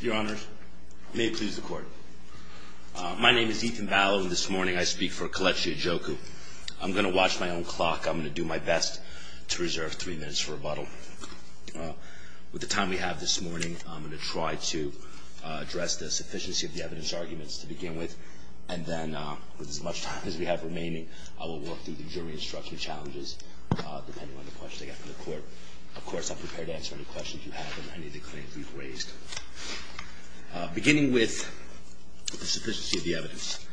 Your honors, may it please the court. My name is Ethan Ballow and this morning I speak for Kelechi Ajoku. I'm going to watch my own clock. I'm going to do my best to reserve three minutes for rebuttal. With the time we have this morning, I'm going to try to address the sufficiency of the evidence arguments to begin with, and then with as much time as we have remaining, I will work through the jury instruction challenges depending on the questions I get from the court. Of course, I'm prepared to answer any questions you have on any of the claims we've raised. Beginning with the sufficiency of the evidence,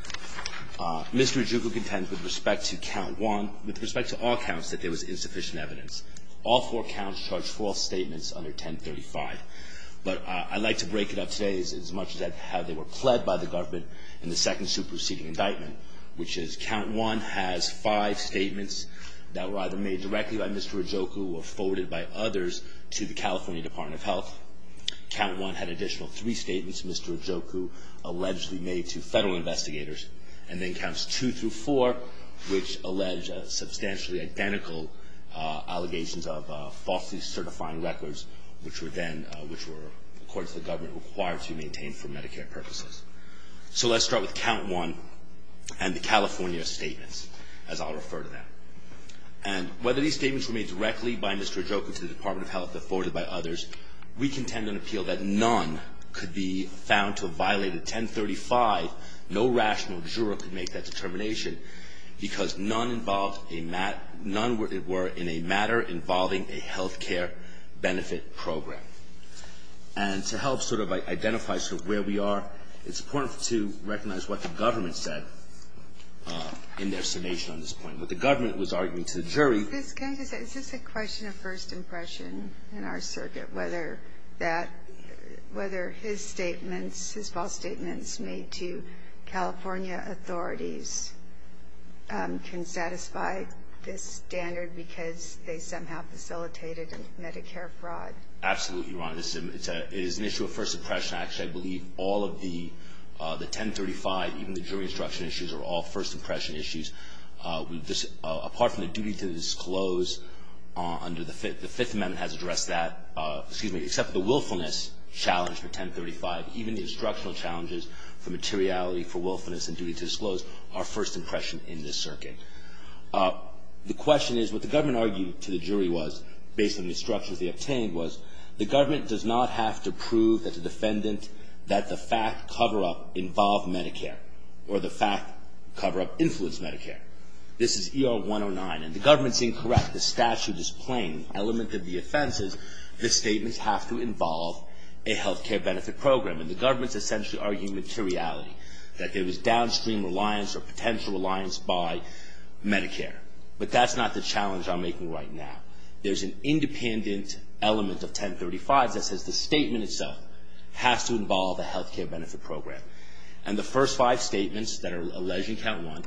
Mr. Ajoku contends with respect to count one, with respect to all counts, that there was insufficient evidence. All four counts charge false statements under 1035. But I'd like to break it up today as much as how they were pled by the government in the second superseding indictment, which is count one has five statements that were either made directly by Mr. Ajoku or forwarded by others to the California Department of Health. Count one had additional three statements Mr. Ajoku allegedly made to federal investigators, and then counts two through four, which allege substantially identical allegations of falsely certifying records, which were then, which were, according to the government, required to be maintained for Medicare purposes. So let's start with count one and the California statements, as I'll refer to them. And whether these statements were made directly by Mr. Ajoku to the Department of Health or forwarded by others, we contend and appeal that none could be found to have violated 1035, no rational juror could make that determination, because none involved, none were in a matter involving a health care benefit program. And to help sort of identify sort of where we are, it's important to recognize what the government said in their summation on this point. What the government was arguing to the jury. Is this a question of first impression in our circuit, whether that, whether his statements, his false statements made to California authorities can satisfy this standard because they somehow facilitated Medicare fraud? Absolutely, Ron. This is an issue of first impression. Actually, I believe all of the, the 1035, even the jury instruction issues are all first impression issues. Apart from the duty to disclose under the Fifth Amendment has addressed that, excuse me, except the willfulness challenge for 1035, even the instructional challenges for materiality, for willfulness and duty to disclose are first impression in this circuit. The question is, what the government argued to the jury was, based on the instructions they obtained, was the government does not have to prove that the defendant, that the fact cover-up involved Medicare or the fact cover-up influenced Medicare. This is ER 109 and the government's incorrect. The statute is plain. Element of the offense is the statements have to involve a health care benefit program. And the government's essentially arguing materiality, that there was downstream reliance or potential reliance by Medicare. But that's not the challenge I'm making right now. There's an independent element of 1035 that says the statement itself has to involve a health care benefit program. And the first five statements that are alleged in count one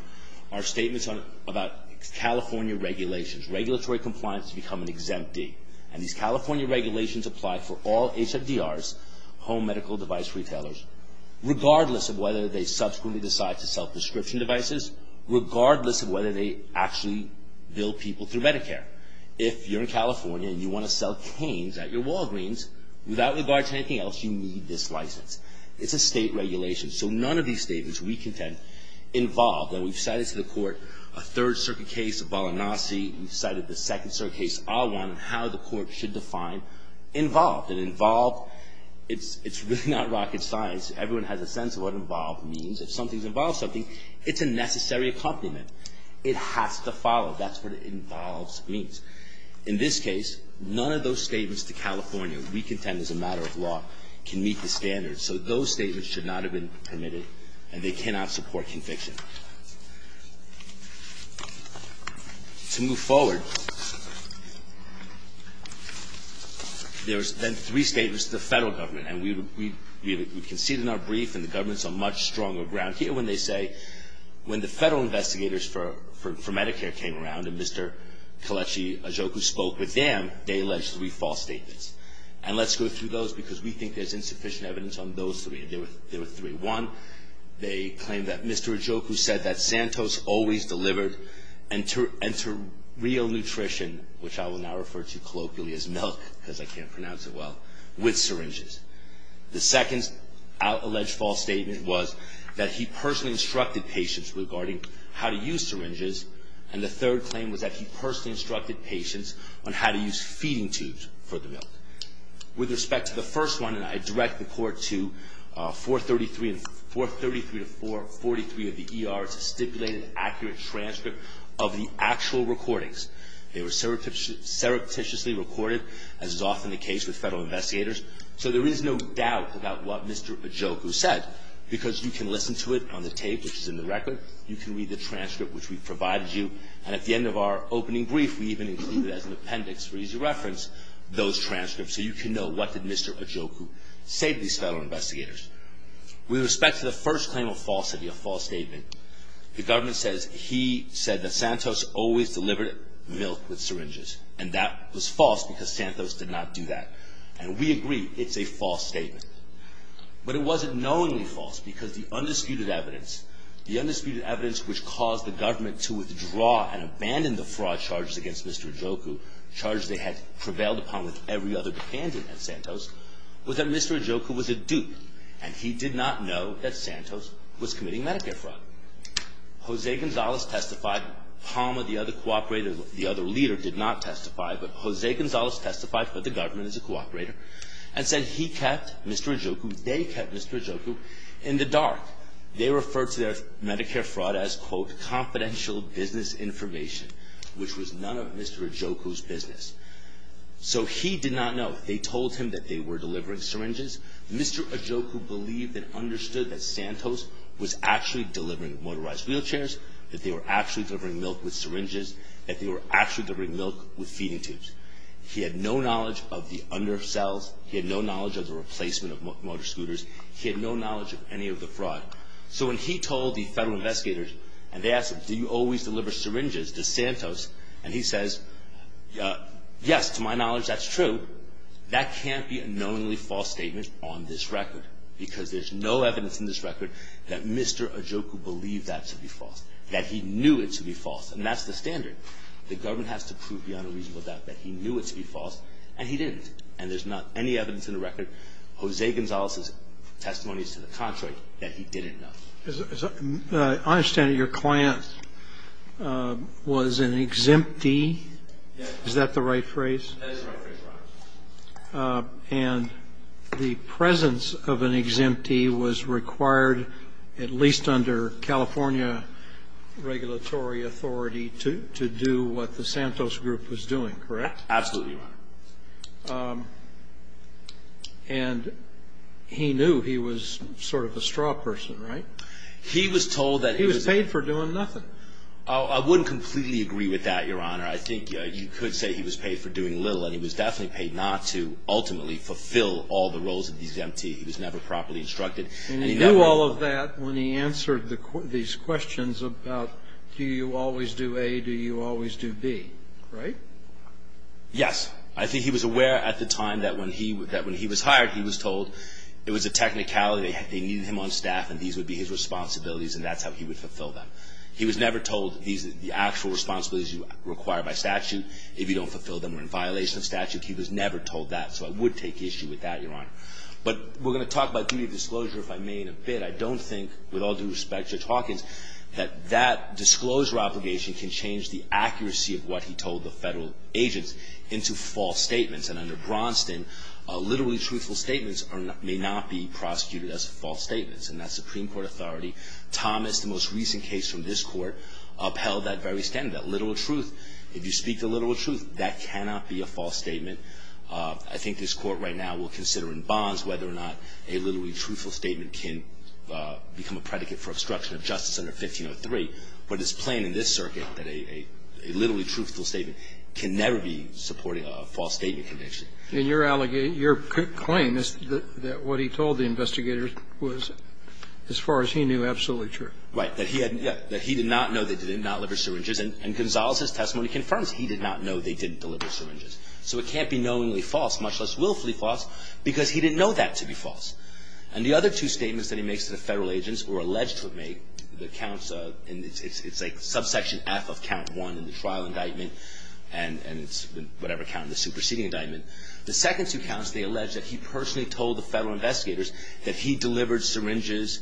are statements on, about California regulations, regulatory compliance to become an exemptee. And these California regulations apply for all HFDRs, home medical device retailers, regardless of whether they subsequently decide to sell prescription devices, regardless of whether they actually bill people through Medicare. If you're in California and you want to sell canes at your Walgreens, without regard to anything else, you need this license. It's a state regulation. So none of these statements, we contend, involve. And we've cited to the court a Third Circuit case, a Balanasi. We've cited the Second Circuit case, Awan, and how the court should define involved. And involved, it's really not rocket science. Everyone has a sense of what involved means. If something's involved something, it's a necessary accompaniment. It has to follow. That's what involved means. In this case, none of those statements to California, we contend as a matter of law, can meet the standards. So those statements should not have been permitted, and they cannot support conviction. To move forward, there's been three statements to the federal government. And we conceded in our brief, and the government's on much stronger ground here when they say, when the federal investigators for Medicare came around, and Mr. Kelechi Ojukwu spoke with them, they alleged three false statements. And let's go through those, because we think there's insufficient evidence on those three. There were three. One, they claimed that Mr. Ojukwu said that Santos always delivered real nutrition, which I will now refer to colloquially as milk, because I can't pronounce it well, with syringes. The second alleged false statement was that he personally instructed patients regarding how to use syringes. And the third claim was that he personally instructed patients on how to use feeding tubes for the milk. With respect to the first one, and I direct the court to 433 to 443 of the ER to stipulate an accurate transcript of the actual recordings. They were surreptitiously recorded, as is often the case with federal investigators. So there is no doubt about what Mr. Ojukwu said. Because you can listen to it on the tape, which is in the record. You can read the transcript, which we provided you. And at the end of our opening brief, we even included as an appendix, for easy reference, those transcripts, so you can know what did Mr. Ojukwu say to these federal investigators. With respect to the first claim of falsity, a false statement, the government says he said that Santos always delivered milk with syringes. And that was false, because Santos did not do that. And we agree, it's a false statement. But it wasn't knowingly false, because the undisputed evidence, the undisputed evidence which caused the government to withdraw and abandon the fraud charges against Mr. Ojukwu, charges they had prevailed upon with every other dependent at Santos, was that Mr. Ojukwu was a dupe. And he did not know that Santos was committing Medicare fraud. Jose Gonzalez testified, Palma, the other cooperator, the other leader, did not testify. But Jose Gonzalez testified for the government as a cooperator, and said he kept Mr. Ojukwu, they kept Mr. Ojukwu in the dark. They referred to their Medicare fraud as, quote, confidential business information, which was none of Mr. Ojukwu's business. So he did not know. They told him that they were delivering syringes. Mr. Ojukwu believed and understood that Santos was actually delivering motorized wheelchairs, that they were actually delivering milk with syringes, that they were actually delivering milk with feeding tubes. He had no knowledge of the undercells, he had no knowledge of the replacement of motor scooters, he had no knowledge of any of the fraud. So when he told the federal investigators, and they asked him, do you always deliver syringes to Santos? And he says, yes, to my knowledge that's true. That can't be a knowingly false statement on this record. Because there's no evidence in this record that Mr. Ojukwu believed that to be false, that he knew it to be false. And that's the standard. The government has to prove beyond a reasonable doubt that he knew it to be false, and he didn't. And there's not any evidence in the record, Jose Gonzalez's testimonies to the contrary, that he didn't know. I understand that your client was an exemptee, is that the right phrase? That is the right phrase, Your Honor. And the presence of an exemptee was required, at least under California regulatory authority, to do what the Santos group was doing, correct? Absolutely, Your Honor. And he knew he was sort of a straw person, right? He was told that he was- He was paid for doing nothing. I wouldn't completely agree with that, Your Honor. I think you could say he was paid for doing little, and he was definitely paid not to ultimately fulfill all the roles of the exemptee. He was never properly instructed. And he knew all of that when he answered these questions about, do you always do A, do you always do B, right? Yes. I think he was aware at the time that when he was hired, he was told it was a technicality. They needed him on staff, and these would be his responsibilities, and that's how he would fulfill them. He was never told, these are the actual responsibilities you require by statute. If you don't fulfill them, we're in violation of statute. He was never told that, so I would take issue with that, Your Honor. But we're going to talk about duty of disclosure, if I may, in a bit. I don't think, with all due respect, Judge Hawkins, that that disclosure obligation can change the accuracy of what he told the federal agents into false statements. And under Bronston, literally truthful statements may not be prosecuted as false statements, and that's Supreme Court authority. Thomas, the most recent case from this Court, upheld that very standard, that literal truth. If you speak the literal truth, that cannot be a false statement. I think this Court right now will consider in bonds whether or not a literally truthful statement can become a predicate for obstruction of justice under 1503. But it's plain in this circuit that a literally truthful statement can never be supporting a false statement conviction. In your allegation, your claim is that what he told the investigators was, as far as he knew, absolutely true. Right, that he had, yeah, that he did not know they did not deliver syringes. And Gonzales' testimony confirms he did not know they didn't deliver syringes. So it can't be knowingly false, much less willfully false, because he didn't know that to be false. And the other two statements that he makes to the federal agents, or alleged to have made, the counts of, and it's like subsection F of count one in the trial indictment, and it's whatever count in the superseding indictment. The second two counts, they allege that he personally told the federal investigators that he delivered syringes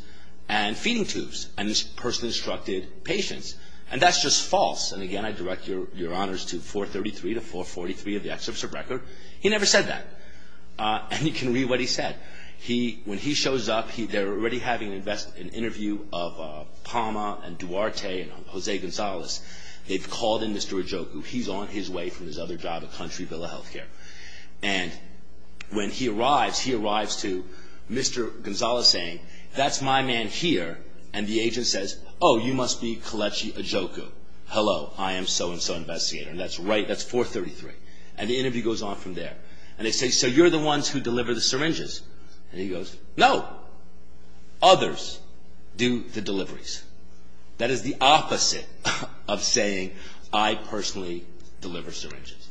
and feeding tubes, and he personally instructed patients. And that's just false. And again, I direct your honors to 433 to 443 of the excerpts of record. He never said that. And you can read what he said. He, when he shows up, they're already having an interview of Palma and Duarte and Jose Gonzales. They've called in Mr. Ojukwu. He's on his way from his other job at Country Villa Healthcare. And when he arrives, he arrives to Mr. Gonzales saying, that's my man here. And the agent says, oh, you must be Kelechi Ojukwu. Hello, I am so-and-so investigator. And that's right, that's 433. And the interview goes on from there. And they say, so you're the ones who deliver the syringes. And he goes, no, others do the deliveries. That is the opposite of saying I personally deliver syringes.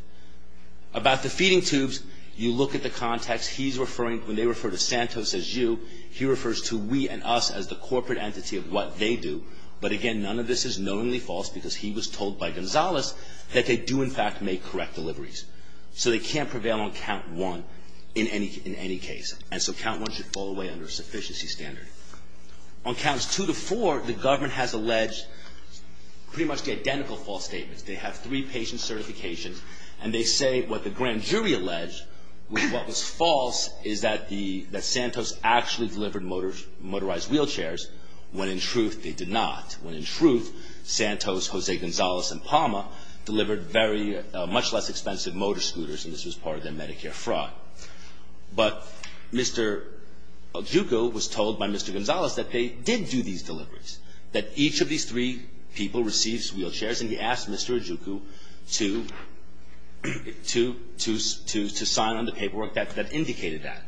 About the feeding tubes, you look at the context. He's referring, when they refer to Santos as you, he refers to we and us as the corporate entity of what they do. But again, none of this is knowingly false because he was told by Gonzales that they do in fact make correct deliveries. So they can't prevail on count one in any case. And so count one should fall away under a sufficiency standard. On counts two to four, the government has alleged pretty much the identical false statements. They have three patient certifications. And they say what the grand jury alleged was what was false is that Santos actually delivered motorized wheelchairs. When in truth, they did not. When in truth, Santos, Jose Gonzales, and PAMA delivered much less expensive motor scooters. And this was part of their Medicare fraud. But Mr. Ajuku was told by Mr. Gonzales that they did do these deliveries. That each of these three people receives wheelchairs. And he asked Mr. Ajuku to sign on the paperwork that indicated that.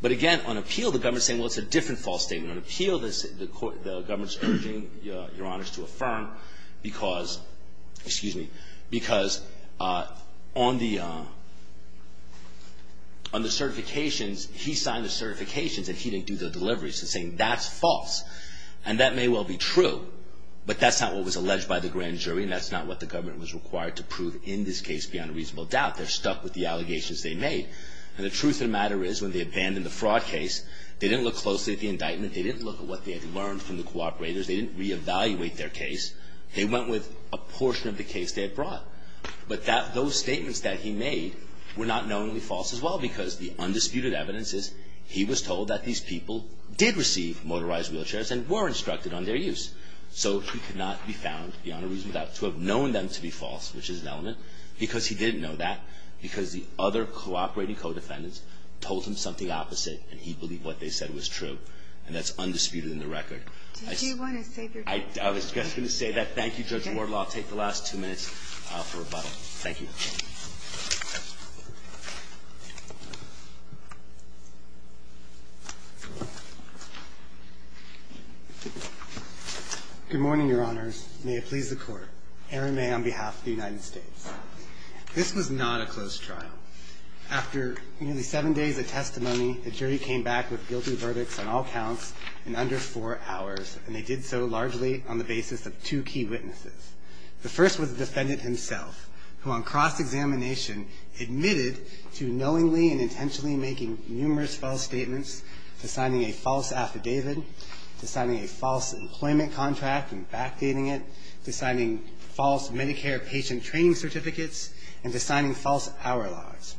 But again, on appeal, the government's saying, well, it's a different false statement. On appeal, the government's urging Your Honors to affirm because, excuse me, because on the certifications, he signed the certifications that he didn't do the deliveries. He's saying that's false. And that may well be true. But that's not what was alleged by the grand jury. And that's not what the government was required to prove in this case beyond a reasonable doubt. They're stuck with the allegations they made. And the truth of the matter is, when they abandoned the fraud case, they didn't look closely at the indictment. They didn't look at what they had learned from the cooperators. They didn't reevaluate their case. They went with a portion of the case they had brought. But those statements that he made were not knowingly false as well because the undisputed evidence is he was told that these people did receive motorized wheelchairs and were instructed on their use. So he could not be found beyond a reasonable doubt to have known them to be false, which is an element, because he didn't know that, because the other cooperating co-defendants told him something opposite, and he believed what they said was true. And that's undisputed in the record. I was just going to say that. Thank you, Judge Wardlaw. I'll take the last two minutes for rebuttal. Thank you. Good morning, Your Honors. May it please the Court. Aaron May on behalf of the United States. This was not a closed trial. After nearly seven days of testimony, the jury came back with guilty verdicts on all counts in under four hours, and they did so largely on the basis of two key witnesses. The first was the defendant himself, who on cross-examination admitted to knowingly and intentionally making numerous false statements, to signing a false affidavit, to signing a false employment contract and backdating it, to signing false Medicare patient training certificates, and to signing false hour logs.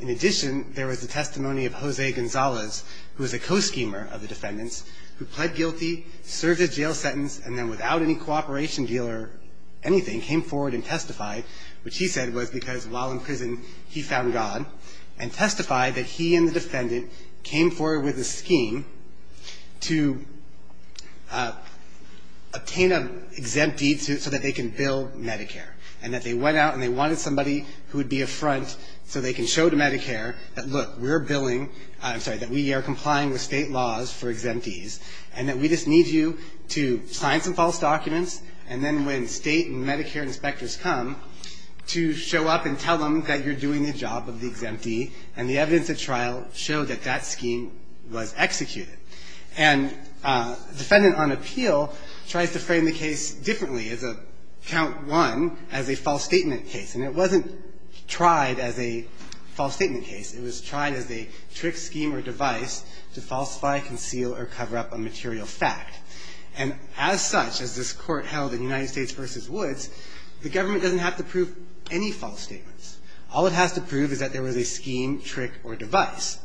In addition, there was the testimony of Jose Gonzalez, who was a co-schemer of the defendants, who pled guilty, served his jail sentence, and then without any cooperation deal or anything, came forward and testified, which he said was because while in prison he found God, and testified that he and the defendant came forward with a scheme to obtain an exempt deed so that they can bill Medicare, and that they went out and they wanted somebody who would be a front so they can show to Medicare that look, we're billing, I'm sorry, that we are complying with state laws for exempt deeds, and that we just need you to sign some false documents, and then when state and Medicare inspectors come to show up and tell them that you're doing the job of the exempt deed, and the evidence at trial showed that that scheme was executed. And defendant on appeal tries to frame the case differently. It's a count one as a false statement case, and it wasn't tried as a false statement case. It was tried as a trick, scheme, or device to falsify, conceal, or cover up a material fact. And as such, as this Court held in United States v. Woods, the government doesn't have to prove any false statements. All it has to prove is that there was a scheme, trick, or device.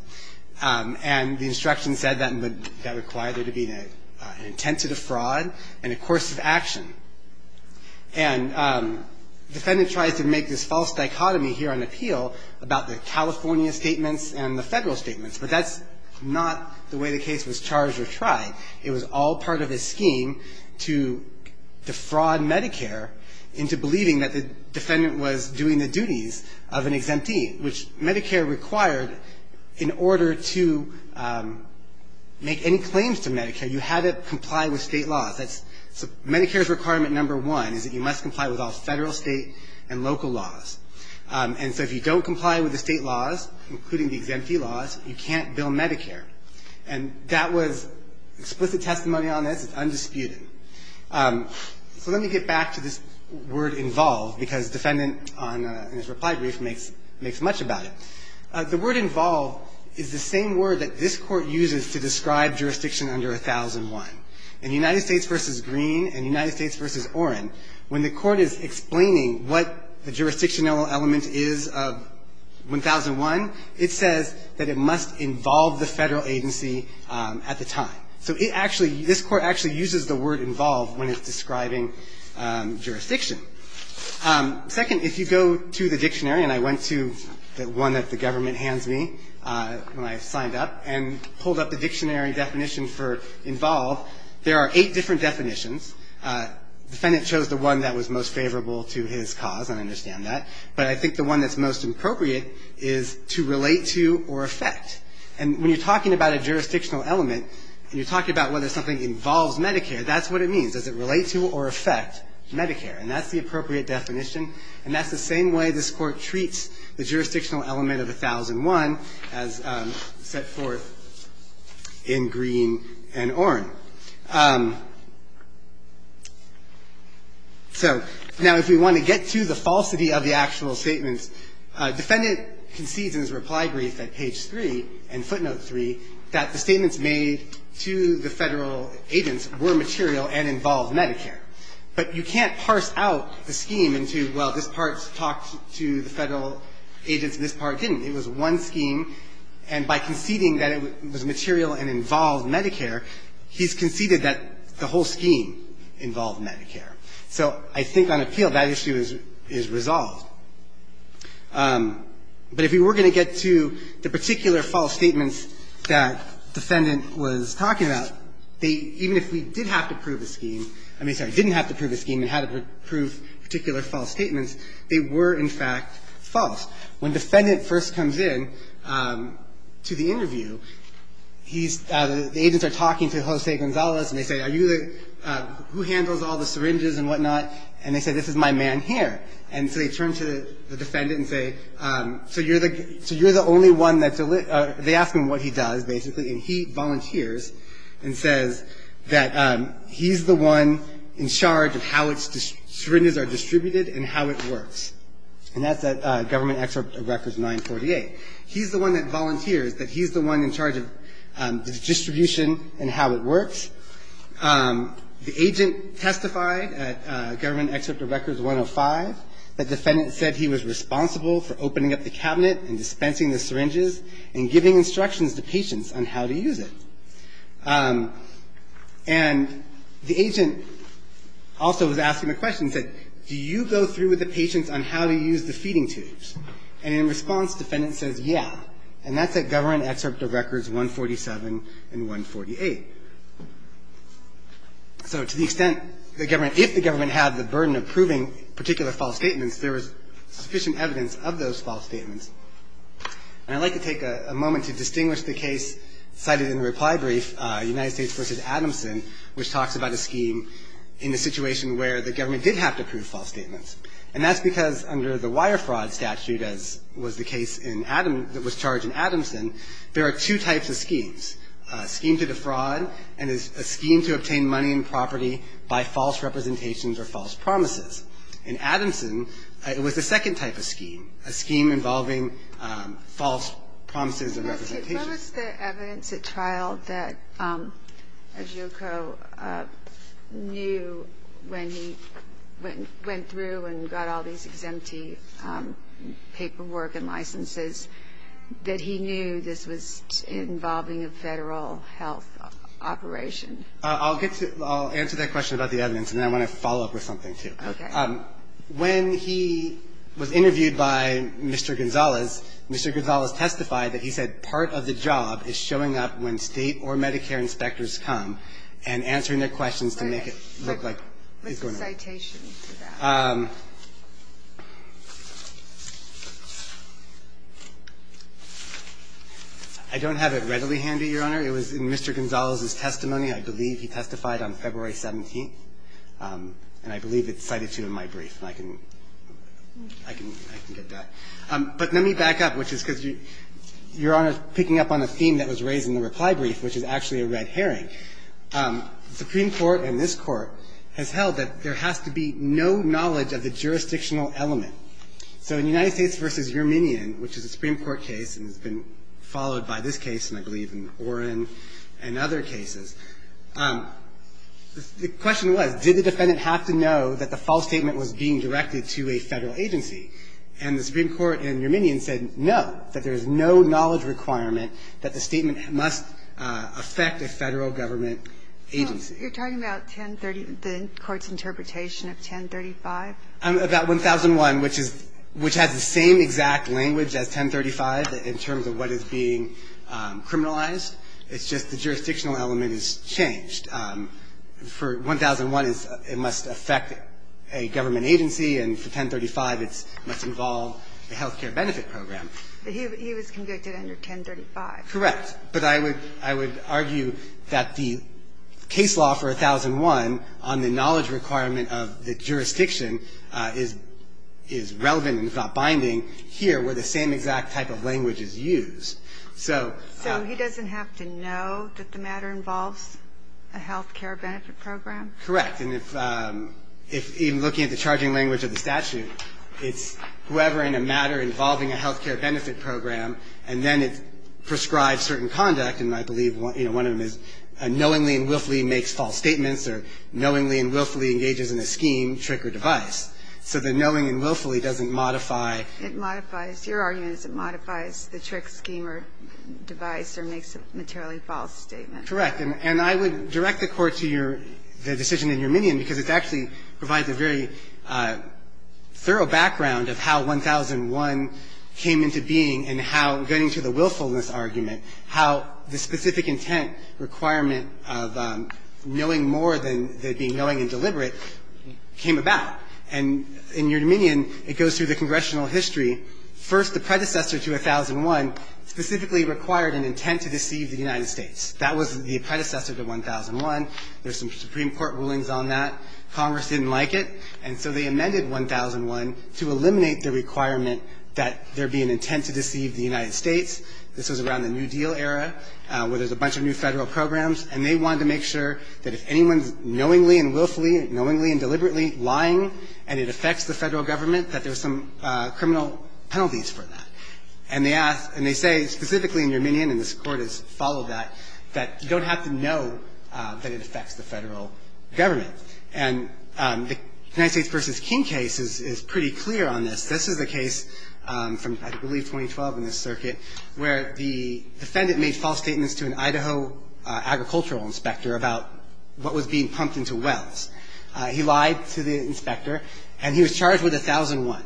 And the instruction said that would require there to be an intent to defraud and a course of action. And defendant tries to make this false dichotomy here on appeal about the California statements and the Federal statements, but that's not the way the case was charged or tried. It was all part of a scheme to defraud Medicare into believing that the defendant was doing the duties of an exempt deed, which Medicare required in order to make any claims to Medicare. You had to comply with state laws. Medicare's requirement number one is that you must comply with all Federal, state, and local laws. And so if you don't comply with the state laws, including the exempt deed laws, you can't bill Medicare. And that was explicit testimony on this. It's undisputed. So let me get back to this word involved, because defendant, in his reply brief, makes much about it. The word involved is the same word that this Court uses to describe jurisdiction under 1001. In United States v. Green and United States v. Orrin, when the Court is explaining what the jurisdictional element is of 1001, it says that it must involve the Federal agency at the time. So it actually, this Court actually uses the word involved when it's describing jurisdiction. Second, if you go to the dictionary, and I went to the one that the government hands me when I signed up, and pulled up the dictionary definition for involved, there are eight different definitions. The defendant chose the one that was most favorable to his cause, and I understand that. But I think the one that's most appropriate is to relate to or affect. And when you're talking about a jurisdictional element, and you're talking about whether something involves Medicare, that's what it means. Does it relate to or affect Medicare? And that's the appropriate definition. And that's the same way this Court treats the jurisdictional element of 1001 as set forth in Green and Orrin. So now if we want to get to the falsity of the actual statements, defendant concedes in his reply brief at page 3 and footnote 3 that the statements made to the Federal agents were material and involved Medicare. But you can't parse out the scheme into, well, this part talked to the Federal agents and this part didn't. It was one scheme. And by conceding that it was material and involved Medicare, he's conceded that the whole scheme involved Medicare. So I think on appeal, that issue is resolved. But if we were going to get to the particular false statements that defendant was talking about, they, even if we did have to prove a scheme, I mean, sorry, didn't have to prove a scheme and had to prove particular false statements, they were, in fact, false. When defendant first comes in to the interview, he's, the agents are talking to Jose Gonzalez and they say, are you the, who handles all the syringes and whatnot? And they say, this is my man here. And so they turn to the defendant and say, so you're the only one that's, they ask him what he does, basically. And he volunteers and says that he's the one in charge of how its syringes are distributed and how it works. And that's at Government Excerpt of Records 948. He's the one that volunteers, that he's the one in charge of the distribution and how it works. The agent testified at Government Excerpt of Records 105, that defendant said he was responsible for opening up the cabinet and dispensing the syringes and giving instructions to patients on how to use it. And the agent also was asking the question, he said, do you go through with the patients on how to use the feeding tubes? And in response, defendant says, yeah. And that's at Government Excerpt of Records 147 and 148. So to the extent the government, if the government had the burden of proving particular false statements, there was sufficient evidence of those false statements. And I'd like to take a moment to distinguish the case cited in the reply brief, United States v. Adamson, which talks about a scheme in the situation where the government did have to prove false statements. And that's because under the Wire Fraud statute, as was the case in Adam, that was charged in Adamson, there are two types of schemes. A scheme to defraud and a scheme to obtain money and property by false representations or false promises. In Adamson, it was a second type of scheme, a scheme involving false promises and representations. What was the evidence at trial that Ajoko knew when he went through and got all these exemptee paperwork and licenses, that he knew this was involving a federal health operation? I'll answer that question about the evidence, and then I want to follow up with something, too. Okay. When he was interviewed by Mr. Gonzalez, Mr. Gonzalez testified that he said part of the job is showing up when State or Medicare inspectors come and answering their questions to make it look like it's going to work. What's the citation for that? I don't have it readily handy, Your Honor. It was in Mr. Gonzalez's testimony. I believe he testified on February 17th. And I believe it's cited, too, in my brief. I can get that. But let me back up, which is because Your Honor is picking up on a theme that was raised in the reply brief, which is actually a red herring. The Supreme Court and this Court has held that there has to be no knowledge of the jurisdictional element. So in United States v. Yerminian, which is a Supreme Court case and has been followed by this case, and I believe in Oren and other cases, the question was, did the defendant have to know that the false statement was being directed to a Federal agency? And the Supreme Court in Yerminian said no, that there is no knowledge requirement that the statement must affect a Federal government agency. You're talking about 1030, the Court's interpretation of 1035? About 1001, which has the same exact language as 1035 in terms of what is being criminalized. It's just the jurisdictional element has changed. For 1001, it must affect a government agency, and for 1035, it must involve a health care benefit program. But he was convicted under 1035. Correct. But I would argue that the case law for 1001 on the knowledge requirement of the jurisdiction is relevant, if not binding, here where the same exact type of language is used. So he doesn't have to know that the matter involves a health care benefit program? Correct. And if even looking at the charging language of the statute, it's whoever in a matter involving a health care benefit program, and then it prescribes certain conduct. And I believe one of them is knowingly and willfully makes false statements or knowingly and willfully engages in a scheme, trick, or device. So the knowing and willfully doesn't modify. It modifies. Your argument is it modifies the trick, scheme, or device, or makes a materially false statement. Correct. And I would direct the Court to your decision in your minion, because it actually provides a very thorough background of how 1001 came into being and how, going to the willfulness argument, how the specific intent requirement of knowing more than the being knowing and deliberate came about. And in your minion, it goes through the congressional history. First, the predecessor to 1001 specifically required an intent to deceive the United States. That was the predecessor to 1001. There's some Supreme Court rulings on that. Congress didn't like it. And so they amended 1001 to eliminate the requirement that there be an intent to deceive the United States. This was around the New Deal era, where there's a bunch of new Federal programs. And they wanted to make sure that if anyone's knowingly and willfully, knowingly and deliberately lying and it affects the Federal Government, that there's some criminal penalties for that. And they ask, and they say specifically in your minion, and this Court has followed that, that you don't have to know that it affects the Federal Government. And the United States v. King case is pretty clear on this. This is a case from, I believe, 2012 in this circuit, where the defendant made false statements to an Idaho agricultural inspector about what was being pumped into wells. He lied to the inspector, and he was charged with 1001,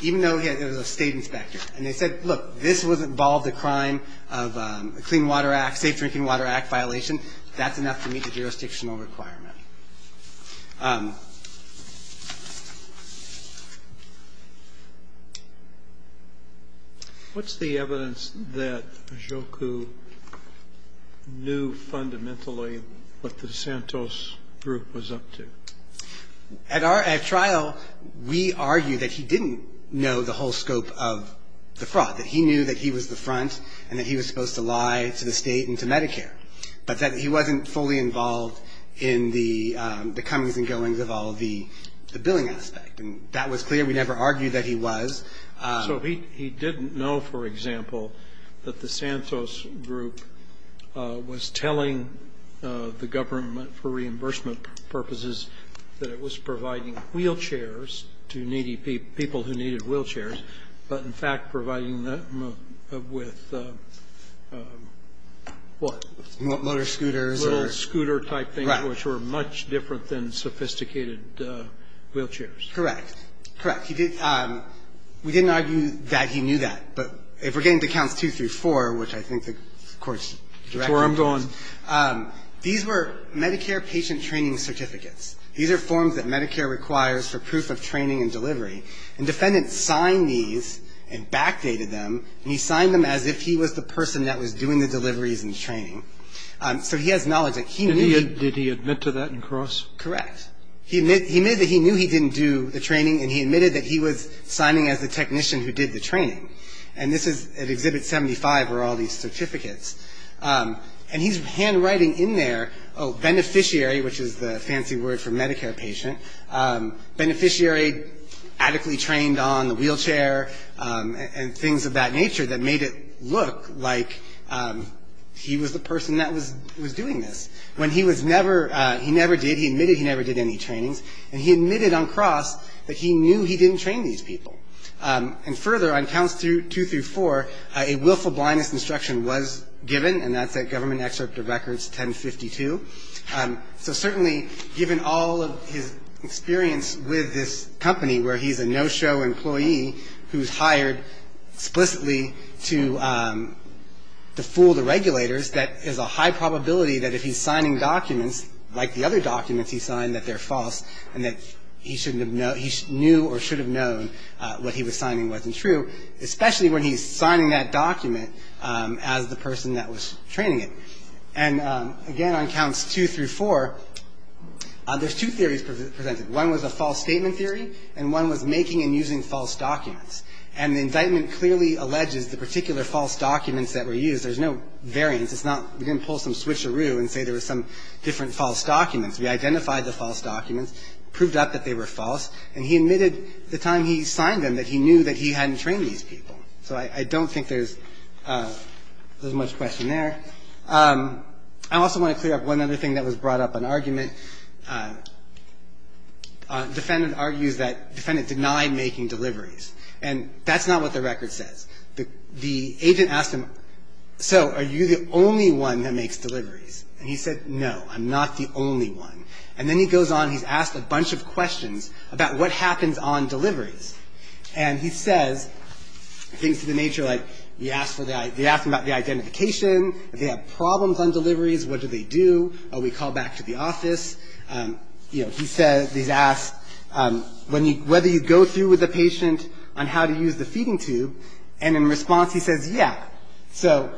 even though he was a state inspector. And they said, look, this was involved a crime of Clean Water Act, Safe Drinking Water Act violation. That's enough to meet the jurisdictional requirement. What's the evidence that Joku knew fundamentally what the DeSantos group was up to? At trial, we argue that he didn't know the whole scope of the fraud, that he knew that he was the front and that he was supposed to lie to the state and to Medicare, but that he wasn't fully involved in the comings and goings of all the billing aspect. And that was clear. We never argued that he was. So he didn't know, for example, that the Santos group was telling the government for reimbursement purposes that it was providing wheelchairs to needy people who needed wheelchairs, but in fact providing them with what? Motor scooters. Little scooter-type things, which were much different than sophisticated wheelchairs. Correct. Correct. We didn't argue that he knew that. But if we're getting to Counts 2 through 4, which I think the Court's direction is, these were Medicare patient training certificates. These are forms that Medicare requires for proof of training and delivery. And defendants signed these and backdated them, and he signed them as if he was the person that was doing the deliveries and training. So he has knowledge that he knew. Did he admit to that in Cross? Correct. He admitted that he knew he didn't do the training, and he admitted that he was signing as the technician who did the training. And this is at Exhibit 75 are all these certificates. And he's handwriting in there, oh, beneficiary, which is the fancy word for Medicare patient, beneficiary adequately trained on the wheelchair and things of that nature that made it look like he was the person that was doing this. When he was never, he never did, he admitted he never did any trainings, and he admitted on Cross that he knew he didn't train these people. And further, on Counts 2 through 4, a willful blindness instruction was given, and that's at Government Excerpt of Records 1052. So certainly given all of his experience with this company where he's a no-show employee who's hired explicitly to fool the regulators, that is a high probability that if he's signing documents like the other documents he signed that they're false and that he knew or should have known what he was signing wasn't true, especially when he's signing that document as the person that was training it. And, again, on Counts 2 through 4, there's two theories presented. One was a false statement theory, and one was making and using false documents. And the indictment clearly alleges the particular false documents that were used. There's no variance. It's not we didn't pull some switcheroo and say there was some different false documents. We identified the false documents, proved out that they were false, and he admitted the time he signed them that he knew that he hadn't trained these people. So I don't think there's much question there. I also want to clear up one other thing that was brought up in argument. The defendant argues that the defendant denied making deliveries. And that's not what the record says. The agent asked him, so are you the only one that makes deliveries? And he said, no, I'm not the only one. And then he goes on and he's asked a bunch of questions about what happens on deliveries. And he says things to the nature of, like, he asked about the identification. If they have problems on deliveries, what do they do? We call back to the office. You know, he says, he's asked whether you go through with the patient on how to use the feeding tube. And in response, he says, yeah. So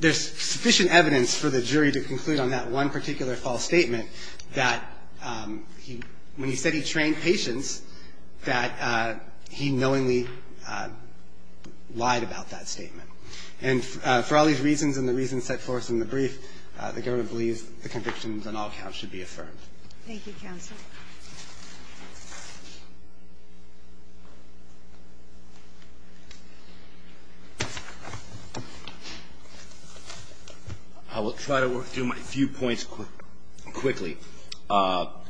there's sufficient evidence for the jury to conclude on that one particular false statement that when he said he trained patients, that he knowingly lied about that statement. And for all these reasons and the reasons set forth in the brief, the government believes the convictions on all counts should be affirmed. Thank you, counsel. I will try to work through my few points quickly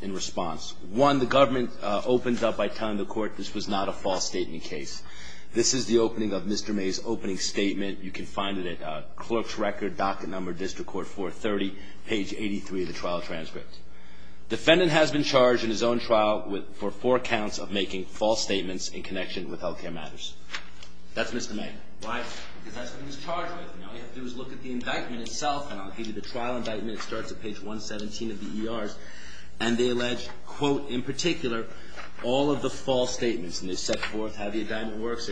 in response. One, the government opens up by telling the Court this was not a false statement This is the opening of Mr. May's opening statement. You can find it at clerk's record, docket number, District Court 430, page 83 of the trial transcript. Defendant has been charged in his own trial for four counts of making false statements in connection with health care matters. That's Mr. May. Why? Because that's what he was charged with. Now, all you have to do is look at the indictment itself. And on the page of the trial indictment, it starts at page 117 of the ERs. And they allege, quote, in particular, all of the false statements. And they set forth how the indictment works,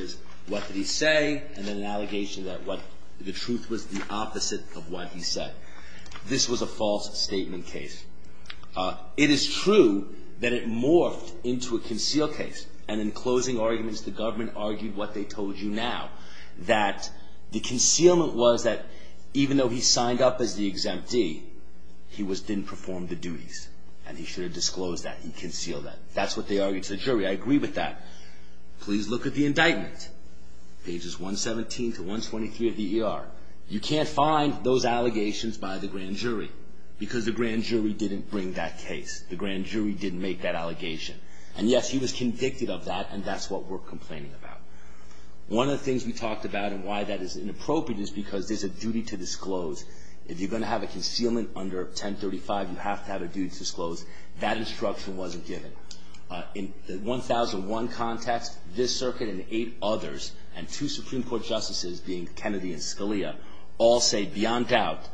what did he say, and then an allegation that the truth was the opposite of what he said. This was a false statement case. It is true that it morphed into a concealed case. And in closing arguments, the government argued what they told you now, that the concealment was that even though he signed up as the exemptee, he didn't perform the duties. And he should have disclosed that. He concealed that. That's what they argued to the jury. I agree with that. Please look at the indictment, pages 117 to 123 of the ER. You can't find those allegations by the grand jury because the grand jury didn't bring that case. The grand jury didn't make that allegation. And yes, he was convicted of that, and that's what we're complaining about. One of the things we talked about and why that is inappropriate is because there's a duty to disclose. If you're going to have a concealment under 1035, you have to have a duty to disclose. That instruction wasn't given. In the 1001 context, this circuit and eight others and two Supreme Court justices, being Kennedy and Scalia, all say beyond doubt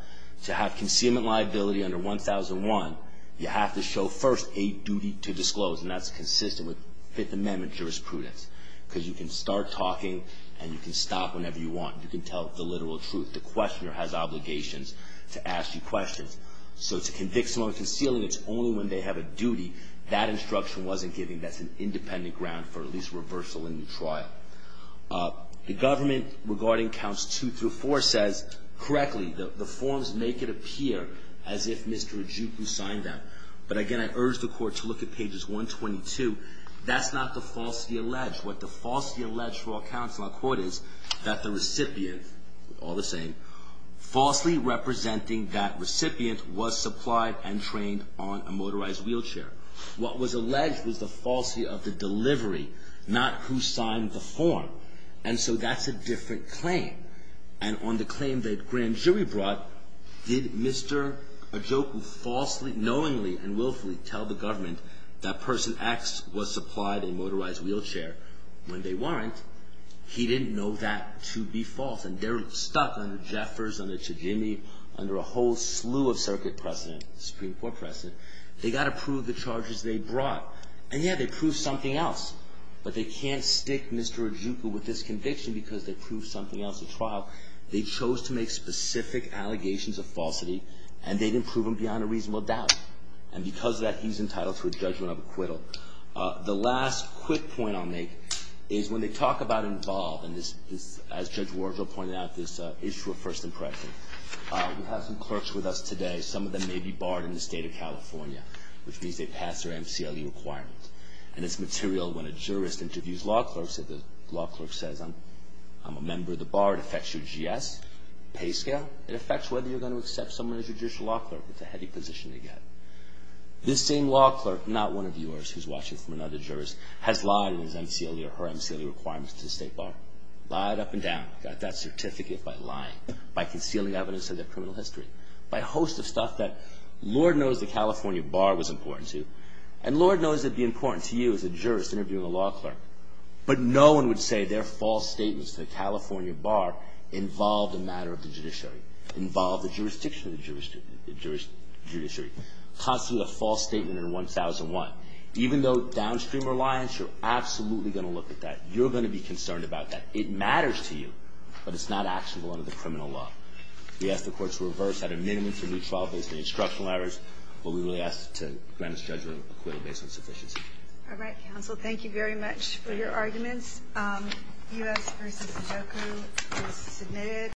to have concealment liability under 1001, you have to show first a duty to disclose. And that's consistent with Fifth Amendment jurisprudence because you can start talking and you can stop whenever you want. You can tell the literal truth. The questioner has obligations to ask you questions. So to convict someone of concealing, it's only when they have a duty. That instruction wasn't given. That's an independent ground for at least reversal in the trial. The government regarding counts two through four says, correctly, the forms make it appear as if Mr. Ajupu signed them. But again, I urge the court to look at pages 122. That's not the falsity alleged. What the falsity alleged for all counts in our court is that the recipient, all the same, falsely representing that recipient was supplied and trained on a motorized wheelchair. What was alleged was the falsity of the delivery, not who signed the form. And so that's a different claim. And on the claim that grand jury brought, did Mr. Ajupu falsely, knowingly and willfully, tell the government that person X was supplied a motorized wheelchair when they weren't? He didn't know that to be false. And they're stuck under Jeffers, under Tajimi, under a whole slew of circuit precedent, Supreme Court precedent. They got to prove the charges they brought. And, yeah, they proved something else. But they can't stick Mr. Ajupu with this conviction because they proved something else at trial. They chose to make specific allegations of falsity, and they didn't prove them beyond a reasonable doubt. And because of that, he's entitled to a judgment of acquittal. The last quick point I'll make is when they talk about involved in this, as Judge Wardle pointed out, this issue of first impression. We have some clerks with us today. Some of them may be barred in the state of California, which means they've passed their MCLE requirements. And it's material when a jurist interviews law clerks, if the law clerk says, I'm a member of the bar, it affects your GS, pay scale. It affects whether you're going to accept someone as your judicial law clerk. It's a heavy position to get. This same law clerk, not one of yours who's watching from another jurist, has lied in his MCLE or her MCLE requirements to the state bar. Lied up and down. Got that certificate by lying, by concealing evidence of their criminal history, by a host of stuff that Lord knows the California bar was important to. And Lord knows it'd be important to you as a jurist interviewing a law clerk. But no one would say their false statements to the California bar involved a matter of the judiciary, involved the jurisdiction of the judiciary. Constantly a false statement under 1001. Even though downstream reliance, you're absolutely going to look at that. You're going to be concerned about that. It matters to you, but it's not actionable under the criminal law. We ask the court to reverse that amendment to the trial-based instruction letters. But we really ask to grant this judgment acquittal based on sufficiency. All right, counsel. Thank you very much for your arguments. U.S. v. Sajoku is submitted.